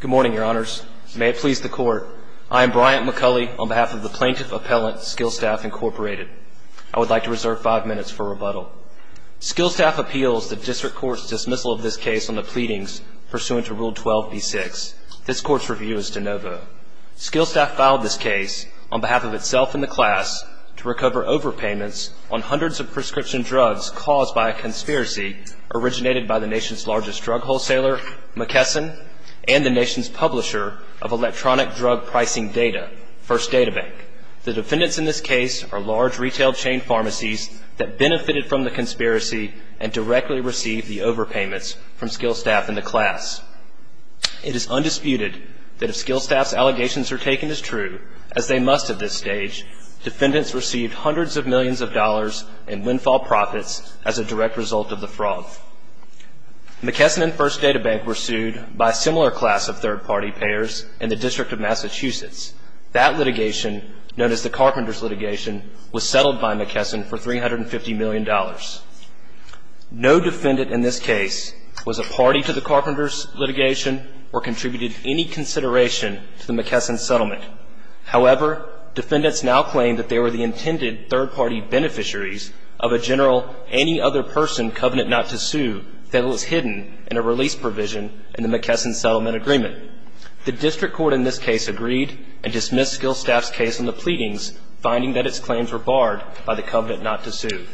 Good morning, Your Honors. May it please the Court, I am Bryant McCulley on behalf of the Plaintiff Appellant, Skillstaf, Inc. I would like to reserve five minutes for rebuttal. Skillstaf appeals the District Court's dismissal of this case on the pleadings pursuant to Rule 12b-6. This Court's review is de novo. Skillstaf filed this case on behalf of itself and the class to recover overpayments on hundreds of prescription drugs caused by a conspiracy originated by the nation's largest drug wholesaler, McKesson, and the nation's publisher of Electronic Drug Pricing Data, First Data Bank. The defendants in this case are large retail chain pharmacies that benefited from the conspiracy and directly received the overpayments from Skillstaf and the class. It is undisputed that if Skillstaf's allegations are taken as true, as they must at this stage, defendants received hundreds of millions of dollars in windfall profits as a direct result of the fraud. McKesson and First Data Bank were sued by a similar class of third-party payers in the District of Massachusetts. That litigation, known as the Carpenter's litigation, was settled by McKesson for $350 million. No defendant in this case was a party to the Carpenter's litigation or contributed any consideration to the McKesson settlement. However, defendants now claim that they were the intended third-party beneficiaries of a general any-other-person covenant not to sue that was hidden in a release provision in the McKesson settlement agreement. The district court in this case agreed and dismissed Skillstaf's case on the pleadings, finding that its claims were barred by the covenant not to sue.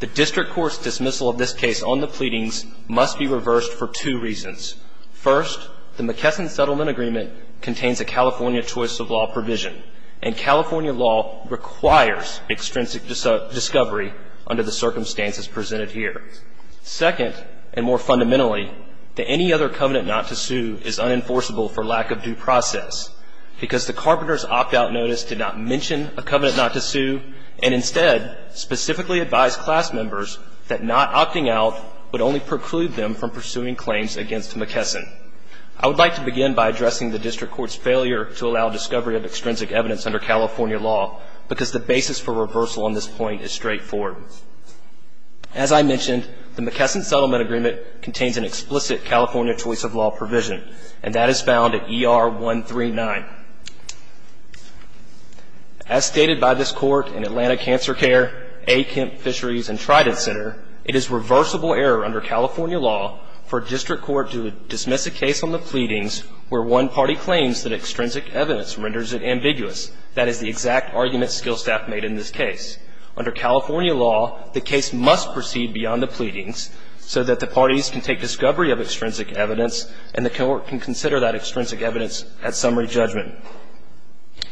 The district court's dismissal of this case on the pleadings must be reversed for two reasons. First, the McKesson settlement agreement contains a California choice of the circumstances presented here. Second, and more fundamentally, that any other covenant not to sue is unenforceable for lack of due process because the Carpenter's opt-out notice did not mention a covenant not to sue and instead specifically advised class members that not opting out would only preclude them from pursuing claims against McKesson. I would like to begin by addressing the district court's failure to allow discovery of extrinsic evidence under California law because the basis for reversal on this point is straightforward. As I mentioned, the McKesson settlement agreement contains an explicit California choice of law provision and that is found at ER 139. As stated by this court in Atlanta Cancer Care, A. Kemp Fisheries and Trident Center, it is reversible error under California law for a district court to dismiss a case on the pleadings where one party claims that is the exact argument skill staff made in this case. Under California law, the case must proceed beyond the pleadings so that the parties can take discovery of extrinsic evidence and the court can consider that extrinsic evidence at summary judgment.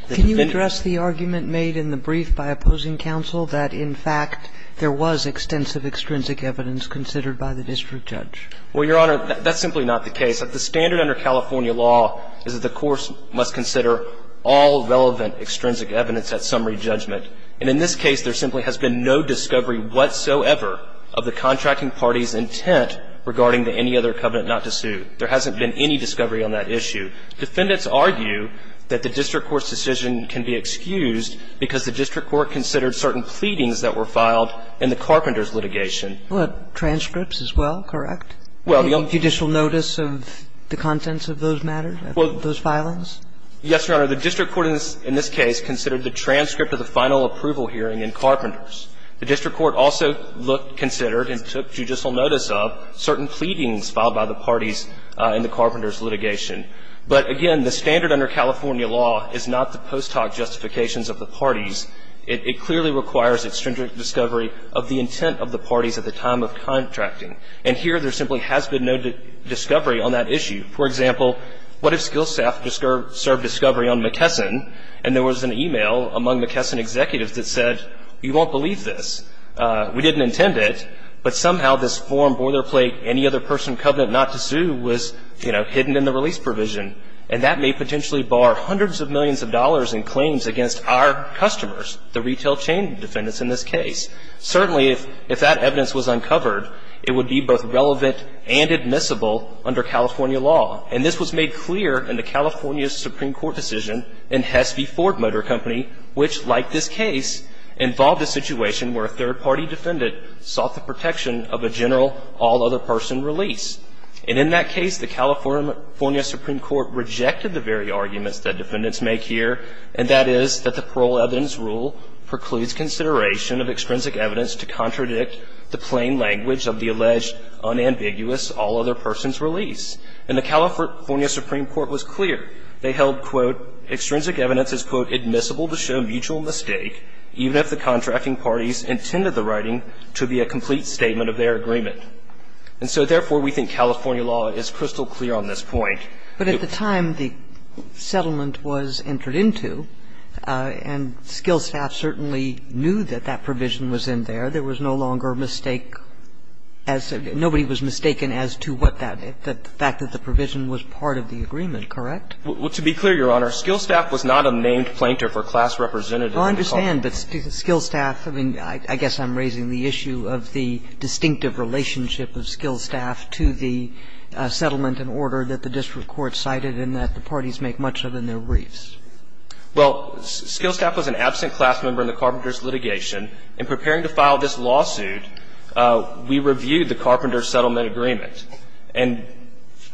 Can you address the argument made in the brief by opposing counsel that, in fact, there was extensive extrinsic evidence considered by the district judge? Well, Your Honor, that's simply not the case. The standard under California law is that the court must consider all relevant extrinsic evidence at summary judgment. And in this case, there simply has been no discovery whatsoever of the contracting party's intent regarding the any other covenant not to sue. There hasn't been any discovery on that issue. Defendants argue that the district court's decision can be excused because the district court considered certain pleadings that were filed in the Carpenter's litigation. Well, transcripts as well, correct? Judicial notice of the contents of those matters, of those filings? Yes, Your Honor. The district court in this case considered the transcript of the final approval hearing in Carpenter's. The district court also looked, considered, and took judicial notice of certain pleadings filed by the parties in the Carpenter's litigation. But again, the standard under California law is not the post hoc justifications of the parties. It clearly requires extrinsic discovery of the intent of the parties at the time of contracting. And here, there simply has been no discovery on that issue. For example, what if SkillSaf served discovery on McKesson and there was an email among McKesson executives that said, you won't believe this, we didn't intend it, but somehow this form bore their plate, any other person covenant not to sue was, you know, hidden in the release provision. And that may potentially bar hundreds of millions of dollars in claims against our customers, the retail chain defendants in this case. Certainly, if that evidence was uncovered, it would be both relevant and admissible under California law. And this was made clear in the California Supreme Court decision in Hesby Ford Motor Company, which, like this case, involved a situation where a third-party defendant sought the protection of a general all-other-person release. And in that case, the California Supreme Court rejected the very arguments that the parole evidence rule precludes consideration of extrinsic evidence to contradict the plain language of the alleged unambiguous all-other-persons release. And the California Supreme Court was clear. They held, quote, extrinsic evidence is, quote, admissible to show mutual mistake, even if the contracting parties intended the writing to be a complete statement of their agreement. And so, therefore, we think California law is crystal clear on this point. But at the time the settlement was entered into, and Skill Staff certainly knew that that provision was in there, there was no longer a mistake as to what that the fact that the provision was part of the agreement, correct? To be clear, Your Honor, Skill Staff was not a named plaintiff or class representative in the California court. I understand, but Skill Staff, I mean, I guess I'm raising the issue of the distinctive relationship of Skill Staff to the settlement and order that the district court cited and that the parties make much of in their briefs. Well, Skill Staff was an absent class member in the Carpenter's litigation. In preparing to file this lawsuit, we reviewed the Carpenter's settlement agreement, and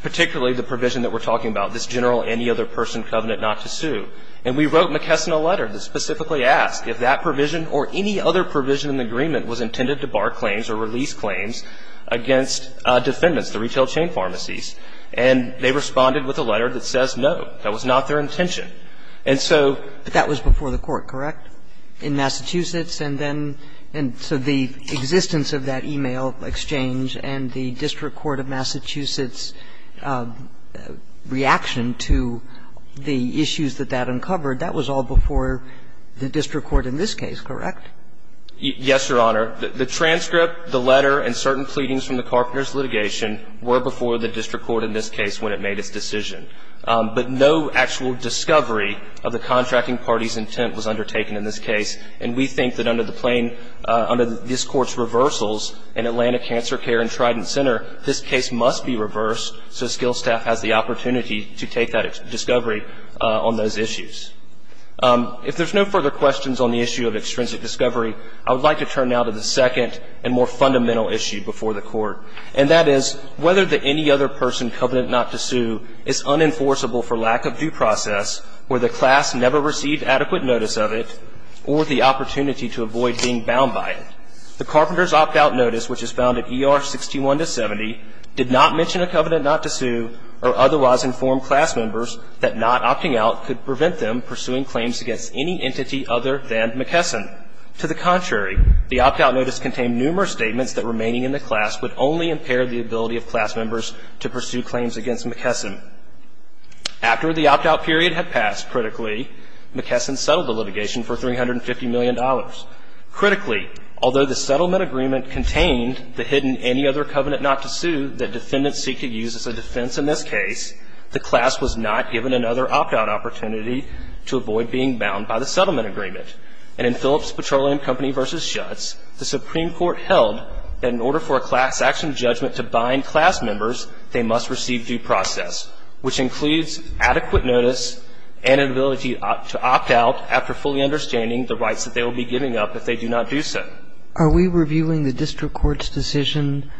particularly the provision that we're talking about, this general any-other-person covenant not to sue. And we wrote McKesson a letter that specifically asked if that provision or any other provision in the agreement was intended to bar claims or release claims against defendants, the retail chain pharmacies. And they responded with a letter that says, no, that was not their intention. And so that was before the court, correct, in Massachusetts? And then so the existence of that e-mail exchange and the district court of Massachusetts reaction to the issues that that uncovered, that was all before the district court in this case, correct? Yes, Your Honor. The transcript, the letter, and certain pleadings from the Carpenter's litigation were before the district court in this case when it made its decision. But no actual discovery of the contracting party's intent was undertaken in this case. And we think that under this court's reversals in Atlanta Cancer Care and Trident Center, this case must be reversed so Skill Staff has the opportunity to take that discovery on those issues. If there's no further questions on the issue of extrinsic discovery, I would like to turn now to the second and more fundamental issue before the court. And that is whether the any other person covenant not to sue is unenforceable for lack of due process or the class never received adequate notice of it or the opportunity to avoid being bound by it. The Carpenter's opt-out notice, which is found at ER 61 to 70, did not mention a covenant not to sue or otherwise inform class members that not opting out could prevent them pursuing claims against any entity other than McKesson. To the contrary, the opt-out notice contained numerous statements that remaining in the class would only impair the ability of class members to pursue claims against McKesson. After the opt-out period had passed, critically, McKesson settled the litigation for $350 million. Critically, although the settlement agreement contained the hidden any other covenant not to sue that defendants seek to use as a defense in this case, the Supreme Court held that in order for a class action judgment to bind class members, they must receive due process, which includes adequate notice and an ability to opt out after fully understanding the rights that they will be giving up if they do not do so. Are we reviewing the district court's decision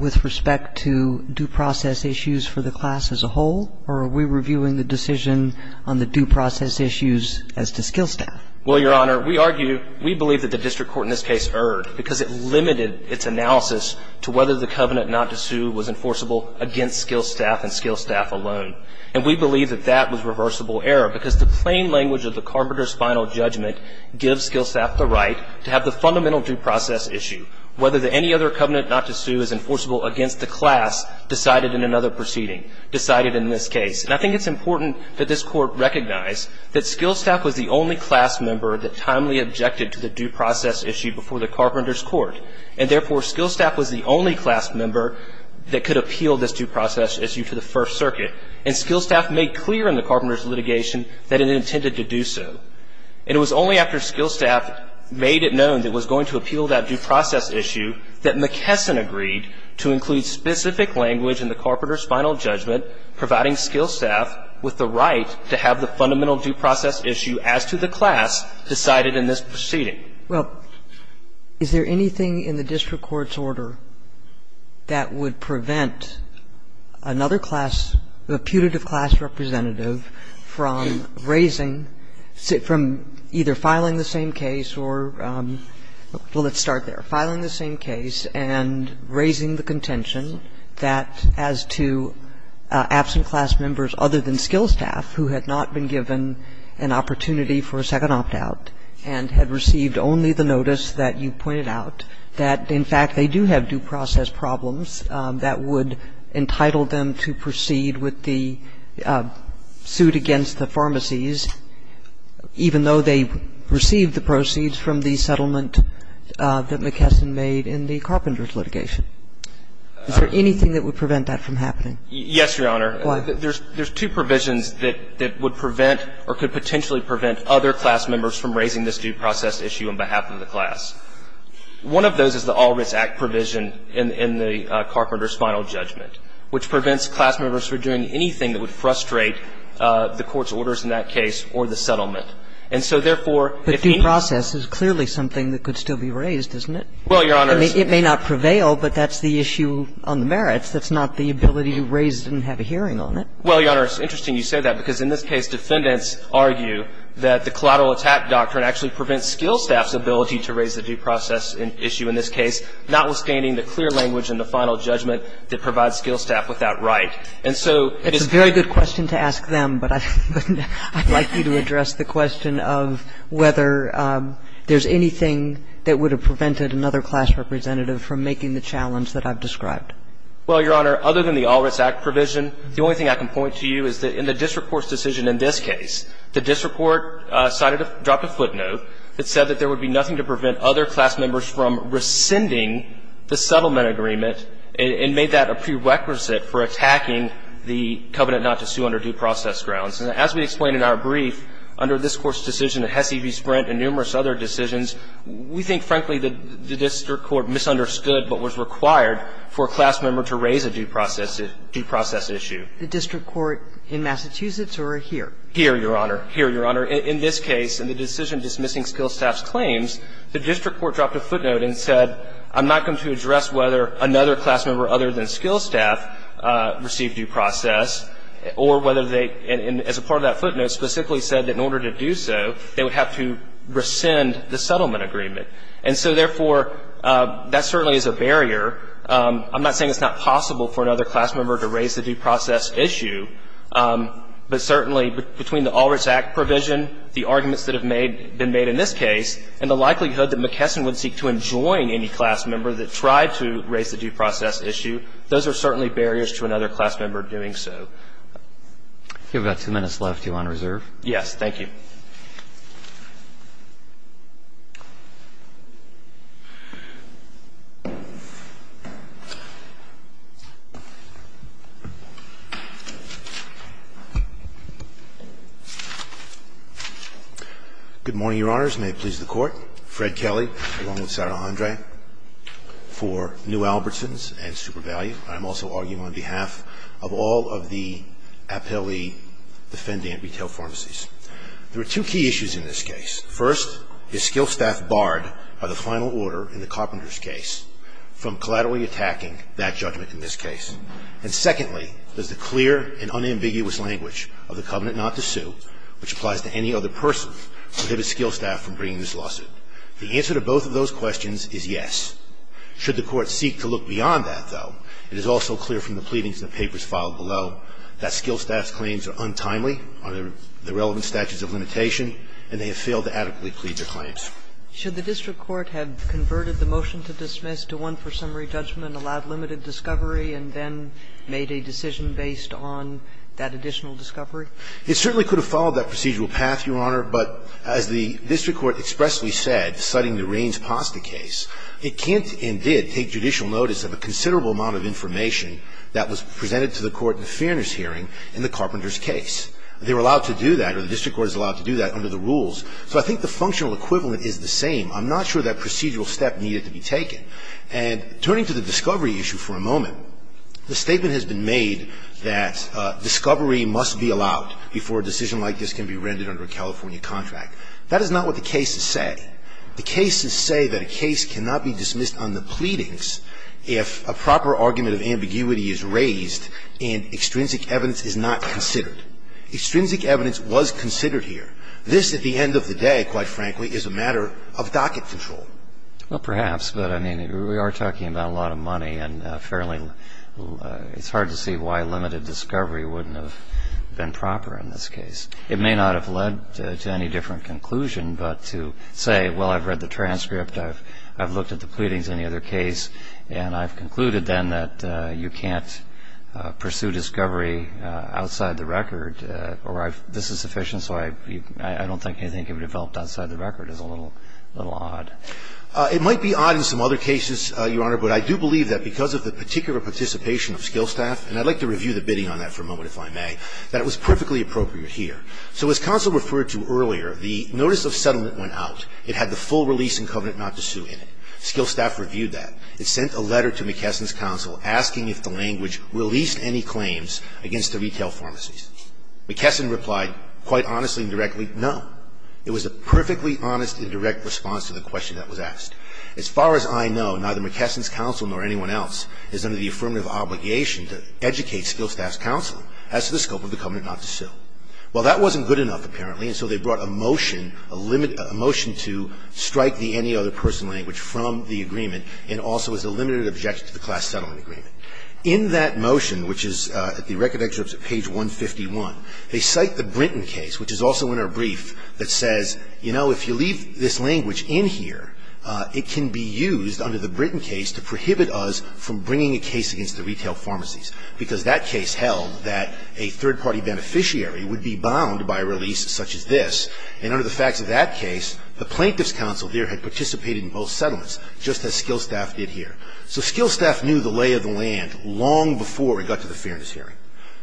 with respect to due process issues for the class as a whole, or are we reviewing the district court's decision on the due process issues as to skill staff? Well, Your Honor, we argue, we believe that the district court in this case erred because it limited its analysis to whether the covenant not to sue was enforceable against skill staff and skill staff alone. And we believe that that was reversible error because the plain language of the carpenter's final judgment gives skill staff the right to have the fundamental due process issue, whether any other covenant not to sue is enforceable against the class decided in another proceeding, decided in this case. And I think it's important that this court recognize that skill staff was the only class member that timely objected to the due process issue before the carpenter's court. And therefore, skill staff was the only class member that could appeal this due process issue to the First Circuit. And skill staff made clear in the carpenter's litigation that it intended to do so. And it was only after skill staff made it known that it was going to appeal that due process issue that McKesson agreed to include specific language in the case. it limited its analysis to whether the covenant not to sue was enforceable against skill staff with the right to have the fundamental due process issue as to the class decided in this proceeding. Kagan. Kagan. Well, is there anything in the district court's order that would prevent another class, a putative class representative, from raising, from either filing the same case, or would it be possible for a class member, other than skill staff, who had not been given an opportunity for a second opt-out and had received only the notice that you pointed out, that, in fact, they do have due process problems, that would entitle them to proceed with the suit against the pharmacies, even though they received the proceeds from the settlement that McKesson made in the Carpenter's litigation? Is there anything that would prevent that from happening? Yes, Your Honor. Why? There's two provisions that would prevent or could potentially prevent other class members from raising this due process issue on behalf of the class. One of those is the All Writs Act provision in the Carpenter's final judgment, which prevents class members from doing anything that would frustrate the court's And so, therefore, if any of the class members were to do anything that would frustrate the court's, and they would have to raise this due process issue on behalf of the class members, then there's no reason to believe that the dual-process is clearly something that could still be raised, isn't it? Well, Your Honor, it's the It may not prevail, but that's the issue on the merits. That's not the ability to raise it and have a hearing on it. Well, Your Honor, it's interesting you say that, because in this case, defendants argue that the collateral attack doctrine actually prevents skill staff's ability to raise the due process issue in this case, notwithstanding the clear language and the final judgment that provides skill staff without right. And so it's It's a very good question to ask them, but I'd like you to address the question of whether there's anything that would have prevented another class representative from making the challenge that I've described. Well, Your Honor, other than the All Writs Act provision, the only thing I can point to you is that in the disreport's decision in this case, the disreport dropped a footnote that said that there would be nothing to prevent other class members from rescinding the settlement agreement and made that a prerequisite for attacking the covenant not to sue under due process grounds. And as we explained in our brief, under this Court's decision, the HESI v. Sprint and numerous other decisions, we think, frankly, that the district court misunderstood what was required for a class member to raise a due process issue. The district court in Massachusetts or here? Here, Your Honor. Here, Your Honor. In this case, in the decision dismissing skill staff's claims, the district court dropped a footnote and said, I'm not going to address whether another class member other than skill staff received due process or whether they, as a part of that footnote, specifically said that in order to do so, they would have to rescind the settlement agreement. And so, therefore, that certainly is a barrier. I'm not saying it's not possible for another class member to raise the due process issue, but certainly between the All Writs Act provision, the arguments that have been made in this case, and the likelihood that McKesson would seek to enjoin any class member that tried to raise the due process issue, those are certainly barriers to another class member doing so. You have about two minutes left, Your Honor, to reserve. Yes. Thank you. Good morning, Your Honors. May it please the Court. Fred Kelly, along with Sarah Andre, for New Albertsons and Super Value. I'm also arguing on behalf of all of the Apelli Defendant Retail Pharmacies. There are two key issues in this case. First, is skill staff barred by the final order in the Carpenters case from collaterally attacking that judgment in this case? And secondly, does the clear and unambiguous language of the covenant not to sue, which applies to any other person, prohibit skill staff from bringing this lawsuit? The answer to both of those questions is yes. Should the Court seek to look beyond that, though, it is also clear from the pleadings in the papers filed below that skill staff's claims are untimely under the relevant statutes of limitation, and they have failed to adequately plead their claims. Should the district court have converted the motion to dismiss to one for summary judgment, allowed limited discovery, and then made a decision based on that additional discovery? It certainly could have followed that procedural path, Your Honor, but as the district court expressly said, citing the Raines-Pasta case, it can't and did take judicial notice of a considerable amount of information that was presented to the court in the Fairness hearing in the Carpenters case. They were allowed to do that, or the district court is allowed to do that, under the rules. So I think the functional equivalent is the same. I'm not sure that procedural step needed to be taken. And turning to the discovery issue for a moment, the statement has been made that discovery must be allowed before a decision like this can be rendered under a California contract. That is not what the cases say. The cases say that a case cannot be dismissed on the pleadings if a proper argument of ambiguity is raised and extrinsic evidence is not considered. Extrinsic evidence was considered here. This, at the end of the day, quite frankly, is a matter of docket control. Well, perhaps, but I mean, we are talking about a lot of money and fairly – it's hard to see why limited discovery wouldn't have been proper in this case. It may not have led to any different conclusion, but to say, well, I've read the transcript, I've looked at the pleadings in any other case, and I've concluded then that you can't pursue discovery outside the record, or this is sufficient, so I don't think anything can be developed outside the record is a little odd. It might be odd in some other cases, Your Honor, but I do believe that because of the particular participation of skill staff – and I'd like to review the bidding on that for a moment, if I may – that it was perfectly appropriate here. So as counsel referred to earlier, the notice of settlement went out. It had the full release and covenant not to sue in it. Skill staff reviewed that. It sent a letter to McKesson's counsel asking if the language released any claims against the retail pharmacies. McKesson replied, quite honestly and directly, no. It was a perfectly honest and direct response to the question that was asked. As far as I know, neither McKesson's counsel nor anyone else is under the affirmative obligation to educate skill staff's counsel as to the scope of the covenant not to sue. Well, that wasn't good enough, apparently, and so they brought a motion, a motion to strike the any other person language from the agreement and also as a limited objection to the class settlement agreement. In that motion, which is at the record excerpt at page 151, they cite the Brinton case, which is also in our brief, that says, you know, if you leave this language in here, it can be used under the Brinton case to prohibit us from bringing a case against the retail pharmacies, because that case held that a third-party beneficiary would be bound by a release such as this, and under the facts of that case, the plaintiff's counsel there had participated in both settlements, just as skill staff did here. So skill staff knew the lay of the land long before it got to the fairness hearing.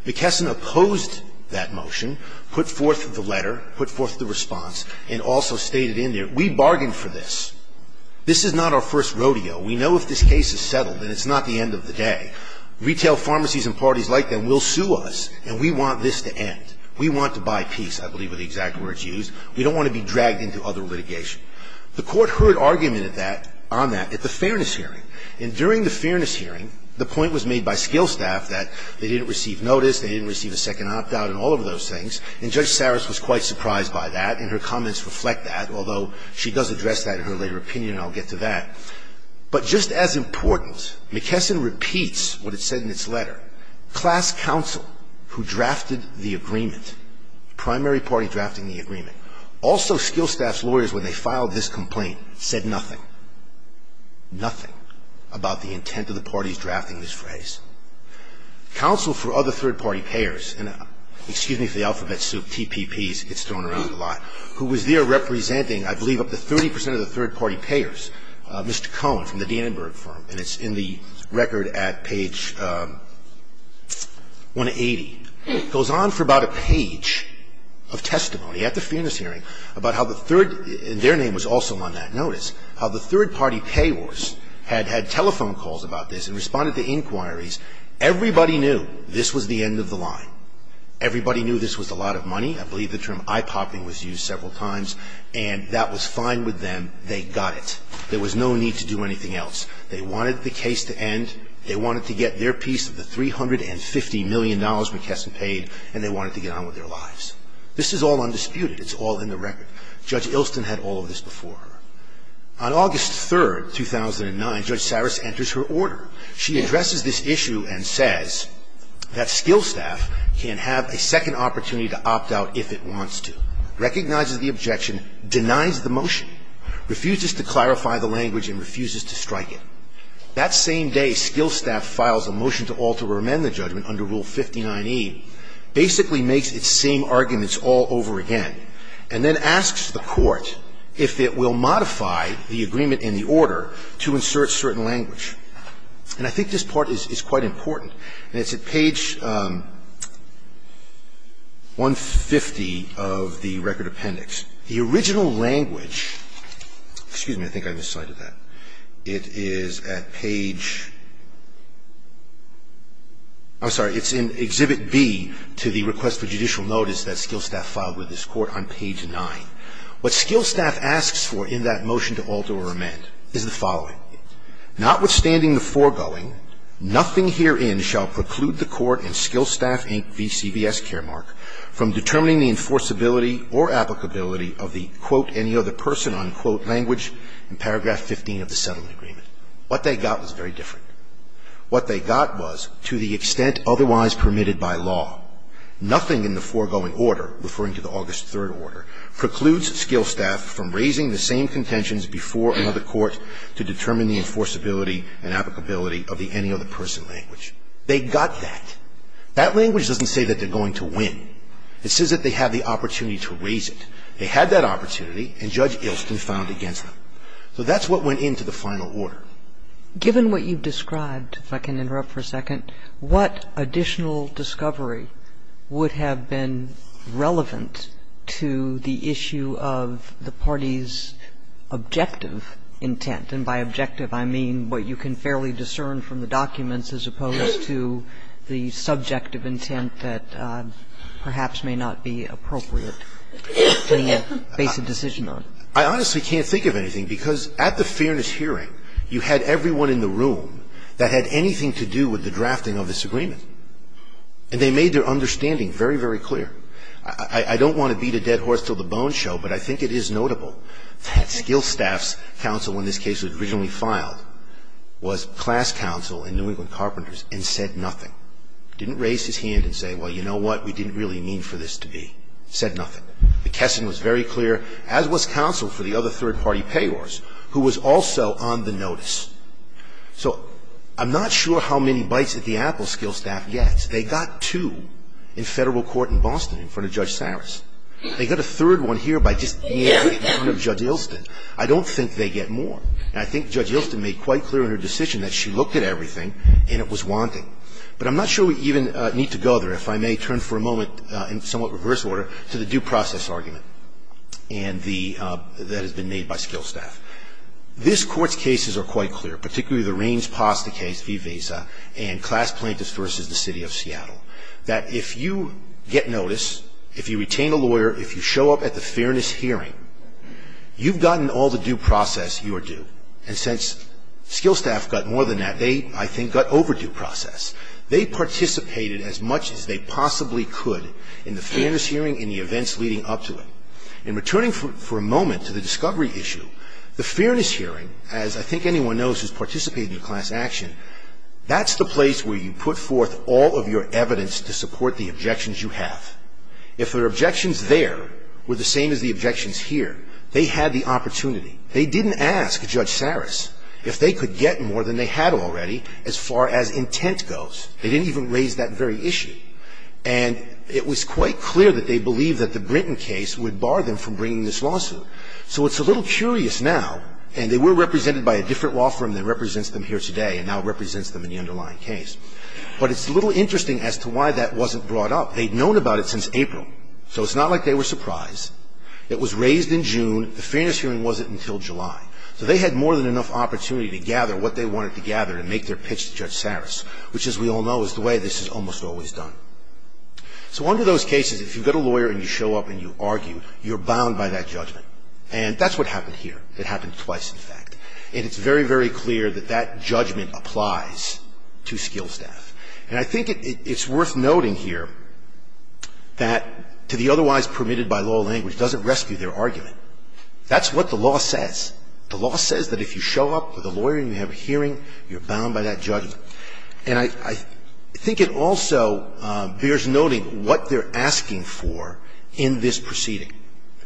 McKesson opposed that motion, put forth the letter, put forth the response, and also stated in there, we bargained for this. This is not our first rodeo. We know if this case is settled, then it's not the end of the day. Retail pharmacies and parties like them will sue us, and we want this to end. We want to buy peace, I believe are the exact words used. We don't want to be dragged into other litigation. The Court heard argument on that at the fairness hearing, and during the fairness hearing, the point was made by skill staff that they didn't receive notice, they didn't receive a second opt-out and all of those things, and Judge Saris was quite surprised by that, and her comments reflect that, although she does address that in her later opinion, and I'll get to that. But just as important, McKesson repeats what it said in its letter. Class counsel who drafted the agreement, primary party drafting the agreement, also skill staff's lawyers when they filed this complaint said nothing, nothing about the intent of the parties drafting this phrase. Counsel for other third-party payers, excuse me for the alphabet soup, TPPs, it's thrown 30 percent of the third-party payers, Mr. Cohn from the Danenberg firm, and it's in the record at page 180, goes on for about a page of testimony at the fairness hearing about how the third – and their name was also on that notice – how the third-party payers had had telephone calls about this and responded to inquiries. Everybody knew this was the end of the line. Everybody knew this was a lot of money. I believe the term eye-popping was used several times, and that was fine with them. They got it. There was no need to do anything else. They wanted the case to end. They wanted to get their piece of the $350 million McKesson paid, and they wanted to get on with their lives. This is all undisputed. It's all in the record. Judge Ilston had all of this before her. On August 3rd, 2009, Judge Saris enters her order. She addresses this issue and says that skill staff can have a second opportunity to opt out if it wants to, recognizes the objection, denies the motion, refuses to clarify the language, and refuses to strike it. That same day, skill staff files a motion to alter or amend the judgment under Rule 59e, basically makes its same arguments all over again, and then asks the court if it will modify the agreement in the order to insert certain language. And I think this part is quite important. And it's at page 150 of the record appendix. The original language – excuse me, I think I miscited that. It is at page – I'm sorry. It's in Exhibit B to the Request for Judicial Notice that skill staff filed with this Court on page 9. What skill staff asks for in that motion to alter or amend is the following. Notwithstanding the foregoing, nothing herein shall preclude the Court in Skill Staff Inc. v. CVS Caremark from determining the enforceability or applicability of the, quote, any other person, unquote, language in paragraph 15 of the settlement agreement. What they got was very different. What they got was, to the extent otherwise permitted by law, nothing in the foregoing order, referring to the August 3rd order, precludes skill staff from raising the same request to the Court to determine the enforceability and applicability of the any other person language. They got that. That language doesn't say that they're going to win. It says that they have the opportunity to raise it. They had that opportunity, and Judge Ilston filed against them. So that's what went into the final order. Given what you've described, if I can interrupt for a second, what additional discovery would have been relevant to the issue of the party's objective in the intent? And by objective, I mean what you can fairly discern from the documents as opposed to the subjective intent that perhaps may not be appropriate to make a basic decision on. I honestly can't think of anything, because at the fairness hearing, you had everyone in the room that had anything to do with the drafting of this agreement. And they made their understanding very, very clear. I don't want to beat a dead horse till the bones show, but I think it is notable that Skillstaff's counsel in this case that was originally filed was class counsel in New England Carpenters and said nothing, didn't raise his hand and say, well, you know what, we didn't really mean for this to be. Said nothing. McKesson was very clear, as was counsel for the other third party payors, who was also on the notice. So I'm not sure how many bites at the apple Skillstaff gets. They got two in federal court in Boston in front of Judge Saris. They got a third one here by just being in front of Judge Ilston. I don't think they get more. And I think Judge Ilston made quite clear in her decision that she looked at everything and it was wanting. But I'm not sure we even need to go there. If I may turn for a moment, in somewhat reverse order, to the due process argument that has been made by Skillstaff. This court's cases are quite clear, particularly the Raines-Pasta case v. Visa and class plaintiffs versus the city of Seattle. That if you get notice, if you retain a lawyer, if you show up at the fairness hearing, you've gotten all the due process you are due. And since Skillstaff got more than that, they, I think, got overdue process. They participated as much as they possibly could in the fairness hearing and the events leading up to it. In returning for a moment to the discovery issue, the fairness hearing, as I think anyone knows who's participated in class action, that's the place where you put forth all of your evidence to support the objections you have. If their objections there were the same as the objections here, they had the opportunity. They didn't ask Judge Sarris if they could get more than they had already as far as intent goes. They didn't even raise that very issue. And it was quite clear that they believed that the Brinton case would bar them from bringing this lawsuit. So it's a little curious now, and they were represented by a different law firm that represents them here today and now represents them in the underlying case. But it's a little interesting as to why that wasn't brought up. They'd known about it since April, so it's not like they were surprised. It was raised in June, the fairness hearing wasn't until July. So they had more than enough opportunity to gather what they wanted to gather and make their pitch to Judge Sarris, which as we all know is the way this is almost always done. So under those cases, if you've got a lawyer and you show up and you argue, you're bound by that judgment. And that's what happened here. It happened twice, in fact. And it's very, very clear that that judgment applies to skill staff. And I think it's worth noting here that to the otherwise permitted by law language doesn't rescue their argument. That's what the law says. The law says that if you show up with a lawyer and you have a hearing, you're bound by that judgment. And I think it also bears noting what they're asking for in this proceeding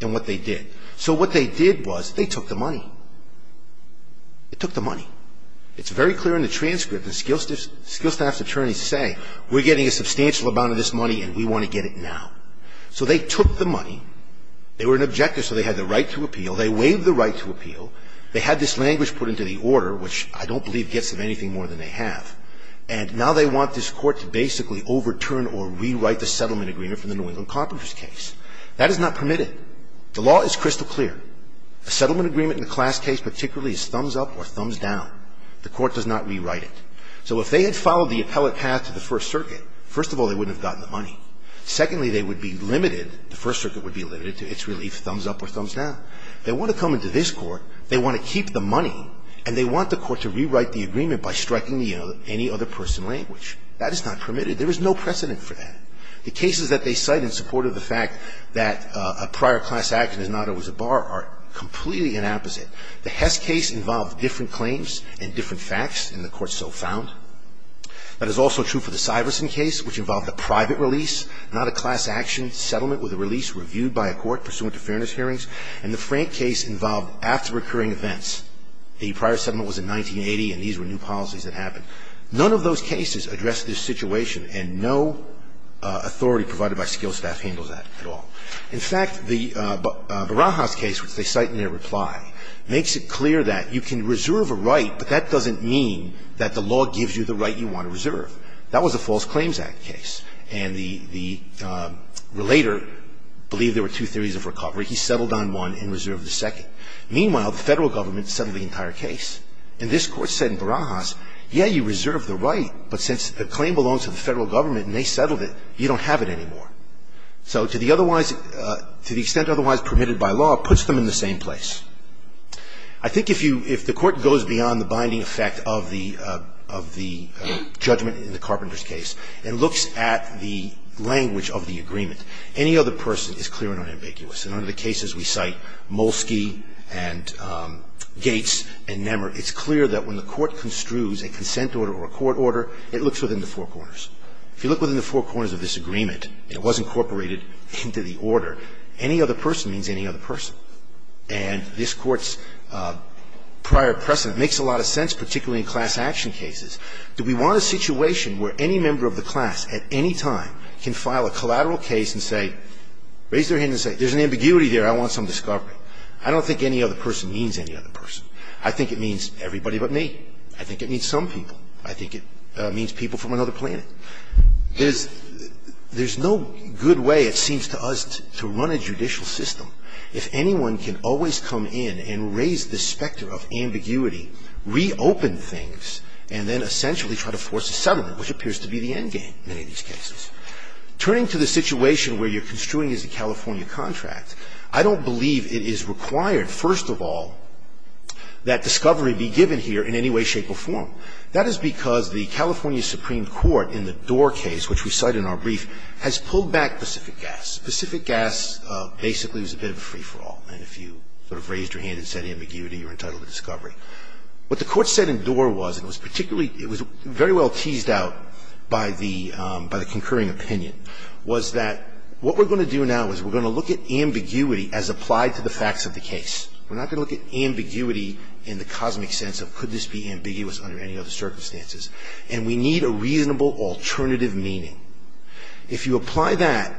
and what they did. So what they did was, they took the money. It took the money. It's very clear in the transcript that skill staff's attorneys say, we're getting a substantial amount of this money and we want to get it now. So they took the money. They were an objector, so they had the right to appeal. They waived the right to appeal. They had this language put into the order, which I don't believe gets them anything more than they have. And now they want this court to basically overturn or rewrite the settlement agreement from the New England Competitors case. That is not permitted. The law is crystal clear. A settlement agreement in a class case particularly is thumbs up or thumbs down. The court does not rewrite it. So if they had followed the appellate path to the First Circuit, first of all, they wouldn't have gotten the money. Secondly, they would be limited, the First Circuit would be limited to its relief, thumbs up or thumbs down. They want to come into this court, they want to keep the money, and they want the court to rewrite the agreement by striking any other person language. That is not permitted. There is no precedent for that. The cases that they cite in support of the fact that a prior class action is not always a bar are completely an opposite. The Hess case involved different claims and different facts, and the court so found. That is also true for the Syverson case, which involved a private release, not a class action settlement with a release reviewed by a court pursuant to fairness hearings, and the Frank case involved after recurring events. The prior settlement was in 1980, and these were new policies that happened. None of those cases address this situation, and no authority provided by skilled staff handles that at all. In fact, the Barajas case, which they cite in their reply, makes it clear that you can reserve a right, but that doesn't mean that the law gives you the right you want to reserve. That was a False Claims Act case, and the relator believed there were two theories of recovery, he settled on one and reserved the second. Meanwhile, the Federal Government settled the entire case, and this court said in Barajas, yeah, you reserve the right, but since the claim belongs to the Federal Government and they settled it, you don't have it anymore, so to the extent otherwise permitted by law, puts them in the same place. I think if the court goes beyond the binding effect of the judgment in the Carpenter's case and looks at the language of the agreement, any other person is clear and unambiguous. And under the cases we cite, Molsky and Gates and Nemmer, it's clear that when the court construes a consent order or a court order, it looks within the four corners. If you look within the four corners of this agreement, it was incorporated into the order. Any other person means any other person. And this Court's prior precedent makes a lot of sense, particularly in class action cases. Do we want a situation where any member of the class at any time can file a collateral case and say, raise their hand and say, there's an ambiguity there, I want some discovery? I don't think any other person means any other person. I think it means everybody but me. I think it means some people. I think it means people from another planet. There's no good way, it seems to us, to run a judicial system if anyone can always come in and raise the specter of ambiguity, reopen things, and then essentially try to force a settlement, which appears to be the endgame in many of these cases. Turning to the situation where you're construing as a California contract, I don't believe it is required, first of all, that discovery be given here in any way, shape, or form. That is because the California Supreme Court in the Doar case, which we cite in our brief, has pulled back Pacific Gas. Pacific Gas basically was a bit of a free-for-all, and if you sort of raised your hand and said ambiguity, you're entitled to discovery. What the Court said in Doar was, and it was particularly, it was very well teased out by the concurring opinion, was that what we're going to do now is we're going to look at ambiguity as applied to the facts of the case. We're not going to look at ambiguity in the cosmic sense of, could this be ambiguous under any other circumstances? And we need a reasonable alternative meaning. If you apply that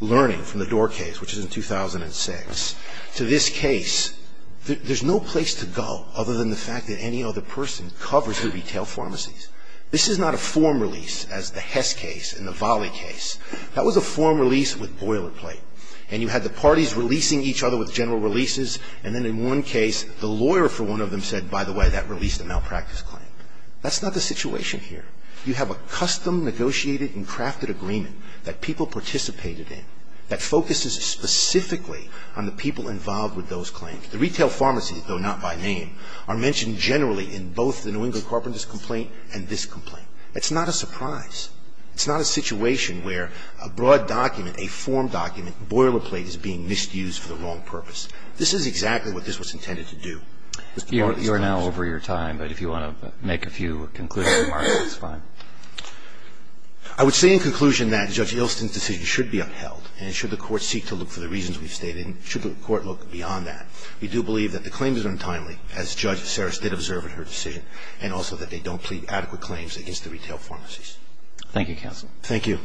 learning from the Doar case, which is in 2006, to this case, there's no place to go other than the fact that any other person covers the retail pharmacies. This is not a form release as the Hess case and the Volley case. That was a form release with boilerplate. And you had the parties releasing each other with general releases, and then in one case, the lawyer for one of them said, by the way, that released a malpractice claim. That's not the situation here. You have a custom negotiated and crafted agreement that people participated in that focuses specifically on the people involved with those claims. The retail pharmacies, though not by name, are mentioned generally in both the New England Carpenters' complaint and this complaint. It's not a surprise. It's not a situation where a broad document, a form document, boilerplate is being misused for the wrong purpose. This is exactly what this was intended to do. Mr. Bartlett's time is up. You are now over your time, but if you want to make a few conclusions, Mark, that's fine. I would say in conclusion that Judge Ilston's decision should be upheld, and should the Court seek to look for the reasons we've stated, and should the Court look beyond that. We do believe that the claim is untimely, as Judge Saris did observe in her decision, and also that they don't plead adequate claims against the retail pharmacies. Thank you, counsel. Thank you.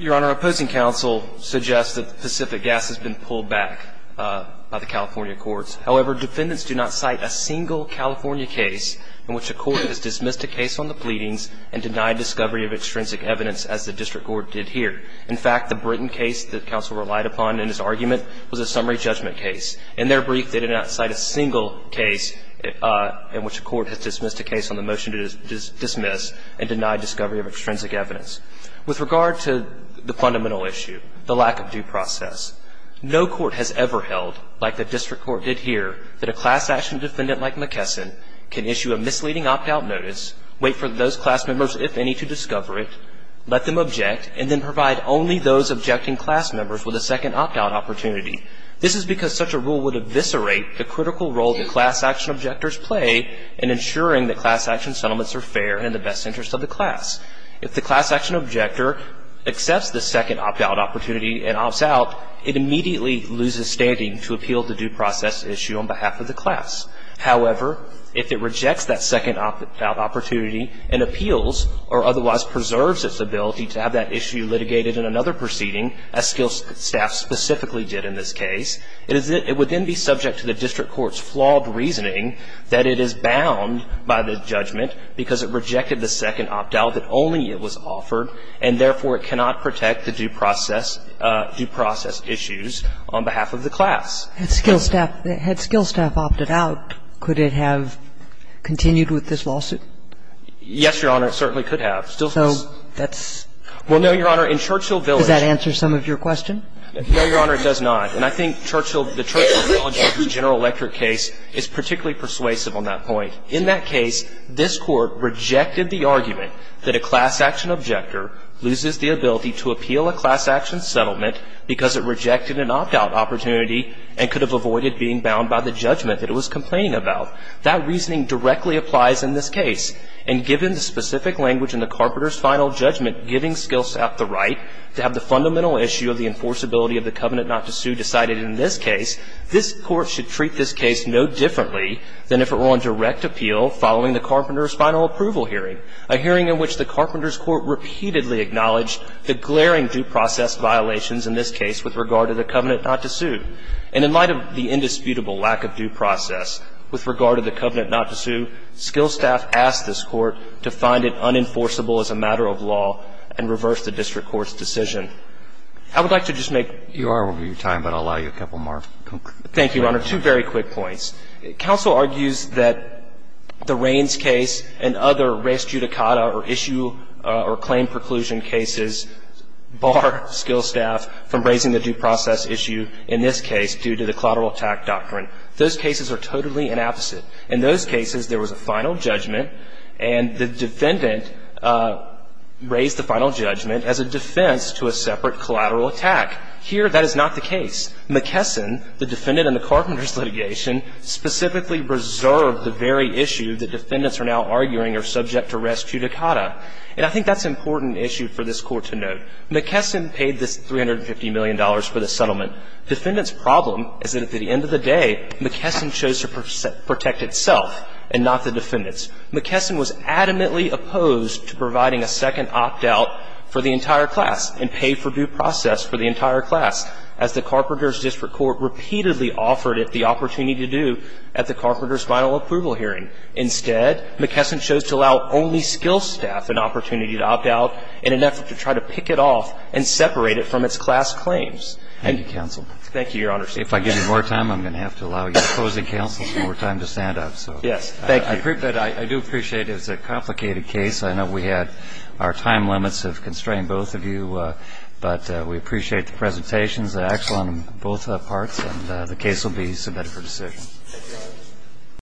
Your Honor, opposing counsel suggests that Pacific Gas has been pulled back by the California courts. However, defendants do not cite a single California case in which a court has dismissed a case on the pleadings and denied discovery of extrinsic evidence, as the district court did here. In fact, the Britain case that counsel relied upon in his argument was a summary judgment case. In their brief, they did not cite a single case in which a court has dismissed a case on the motion to dismiss and deny discovery of extrinsic evidence. With regard to the fundamental issue, the lack of due process, no court has ever held, like the district court did here, that a class-action defendant like McKesson can issue a misleading opt-out notice, wait for those class members, if any, to discover it, let them object, and then provide only those objecting class members with a second opt-out opportunity. This is because such a rule would eviscerate the critical role that class-action objectors play in ensuring that class-action settlements are fair and in the best interest of the class. If the class-action objector accepts the second opt-out opportunity and opts out, it immediately loses standing to appeal the due process issue on behalf of the class. However, if it rejects that second opt-out opportunity and appeals, or otherwise preserves its ability to have that issue litigated in another proceeding, as Skill Staff specifically did in this case, it would then be subject to the district court's flawed reasoning that it is bound by the judgment, because it rejected the second opt-out, that only it was offered, and therefore it cannot protect the due process issues on behalf of the class. And Skill Staff, had Skill Staff opted out, could it have continued with this lawsuit? Yes, Your Honor, it certainly could have. So that's So that's Well, no, Your Honor, in Churchill Village Does that answer some of your question? No, Your Honor, it does not. And I think Churchill Village, the General Electric case, is particularly persuasive on that point. In that case, this Court rejected the argument that a class-action objector loses the ability to appeal a class-action settlement because it rejected an opt-out opportunity and could have avoided being bound by the judgment that it was complaining about. That reasoning directly applies in this case. And given the specific language in the Carpenter's final judgment giving Skill Staff the right to have the fundamental issue of the enforceability of the covenant not to sue decided in this case, this Court should treat this case no differently than if it were on direct appeal following the Carpenter's final approval hearing, a hearing in which the Carpenter's Court repeatedly acknowledged the glaring due process violations in this case with regard to the covenant not to sue. And in light of the indisputable lack of due process with regard to the covenant not to sue, Skill Staff asked this Court to find it unenforceable as a matter of law and reverse the district court's decision. I would like to just make one comment. Roberts. You are over your time, but I'll allow you a couple more. Thank you, Your Honor. Two very quick points. Counsel argues that the Rains case and other race judicata or issue or claim preclusion cases bar Skill Staff from raising the due process issue in this case due to the collateral attack doctrine. Those cases are totally an opposite. In those cases, there was a final judgment, and the defendant raised the final judgment as a defense to a separate collateral attack. Here, that is not the case. McKesson, the defendant in the Carpenter's litigation, specifically reserved the very issue that defendants are now arguing are subject to res judicata. And I think that's an important issue for this Court to note. McKesson paid this $350 million for the settlement. Defendant's problem is that at the end of the day, McKesson chose to protect itself and not the defendants. McKesson was adamantly opposed to providing a second opt out for the entire class and pay for due process for the entire class, as the Carpenter's district court repeatedly offered it the opportunity to do at the Carpenter's final approval hearing. Instead, McKesson chose to allow only Skill Staff an opportunity to opt out in an effort to try to pick it off and separate it from its class claims. Thank you, counsel. Thank you, Your Honor. If I give you more time, I'm going to have to allow you to close the counsels before we're time to stand up. Yes, thank you. I do appreciate it. It's a complicated case. I know we had our time limits have constrained both of you, but we appreciate the presentations, excellent on both parts, and the case will be submitted for decision.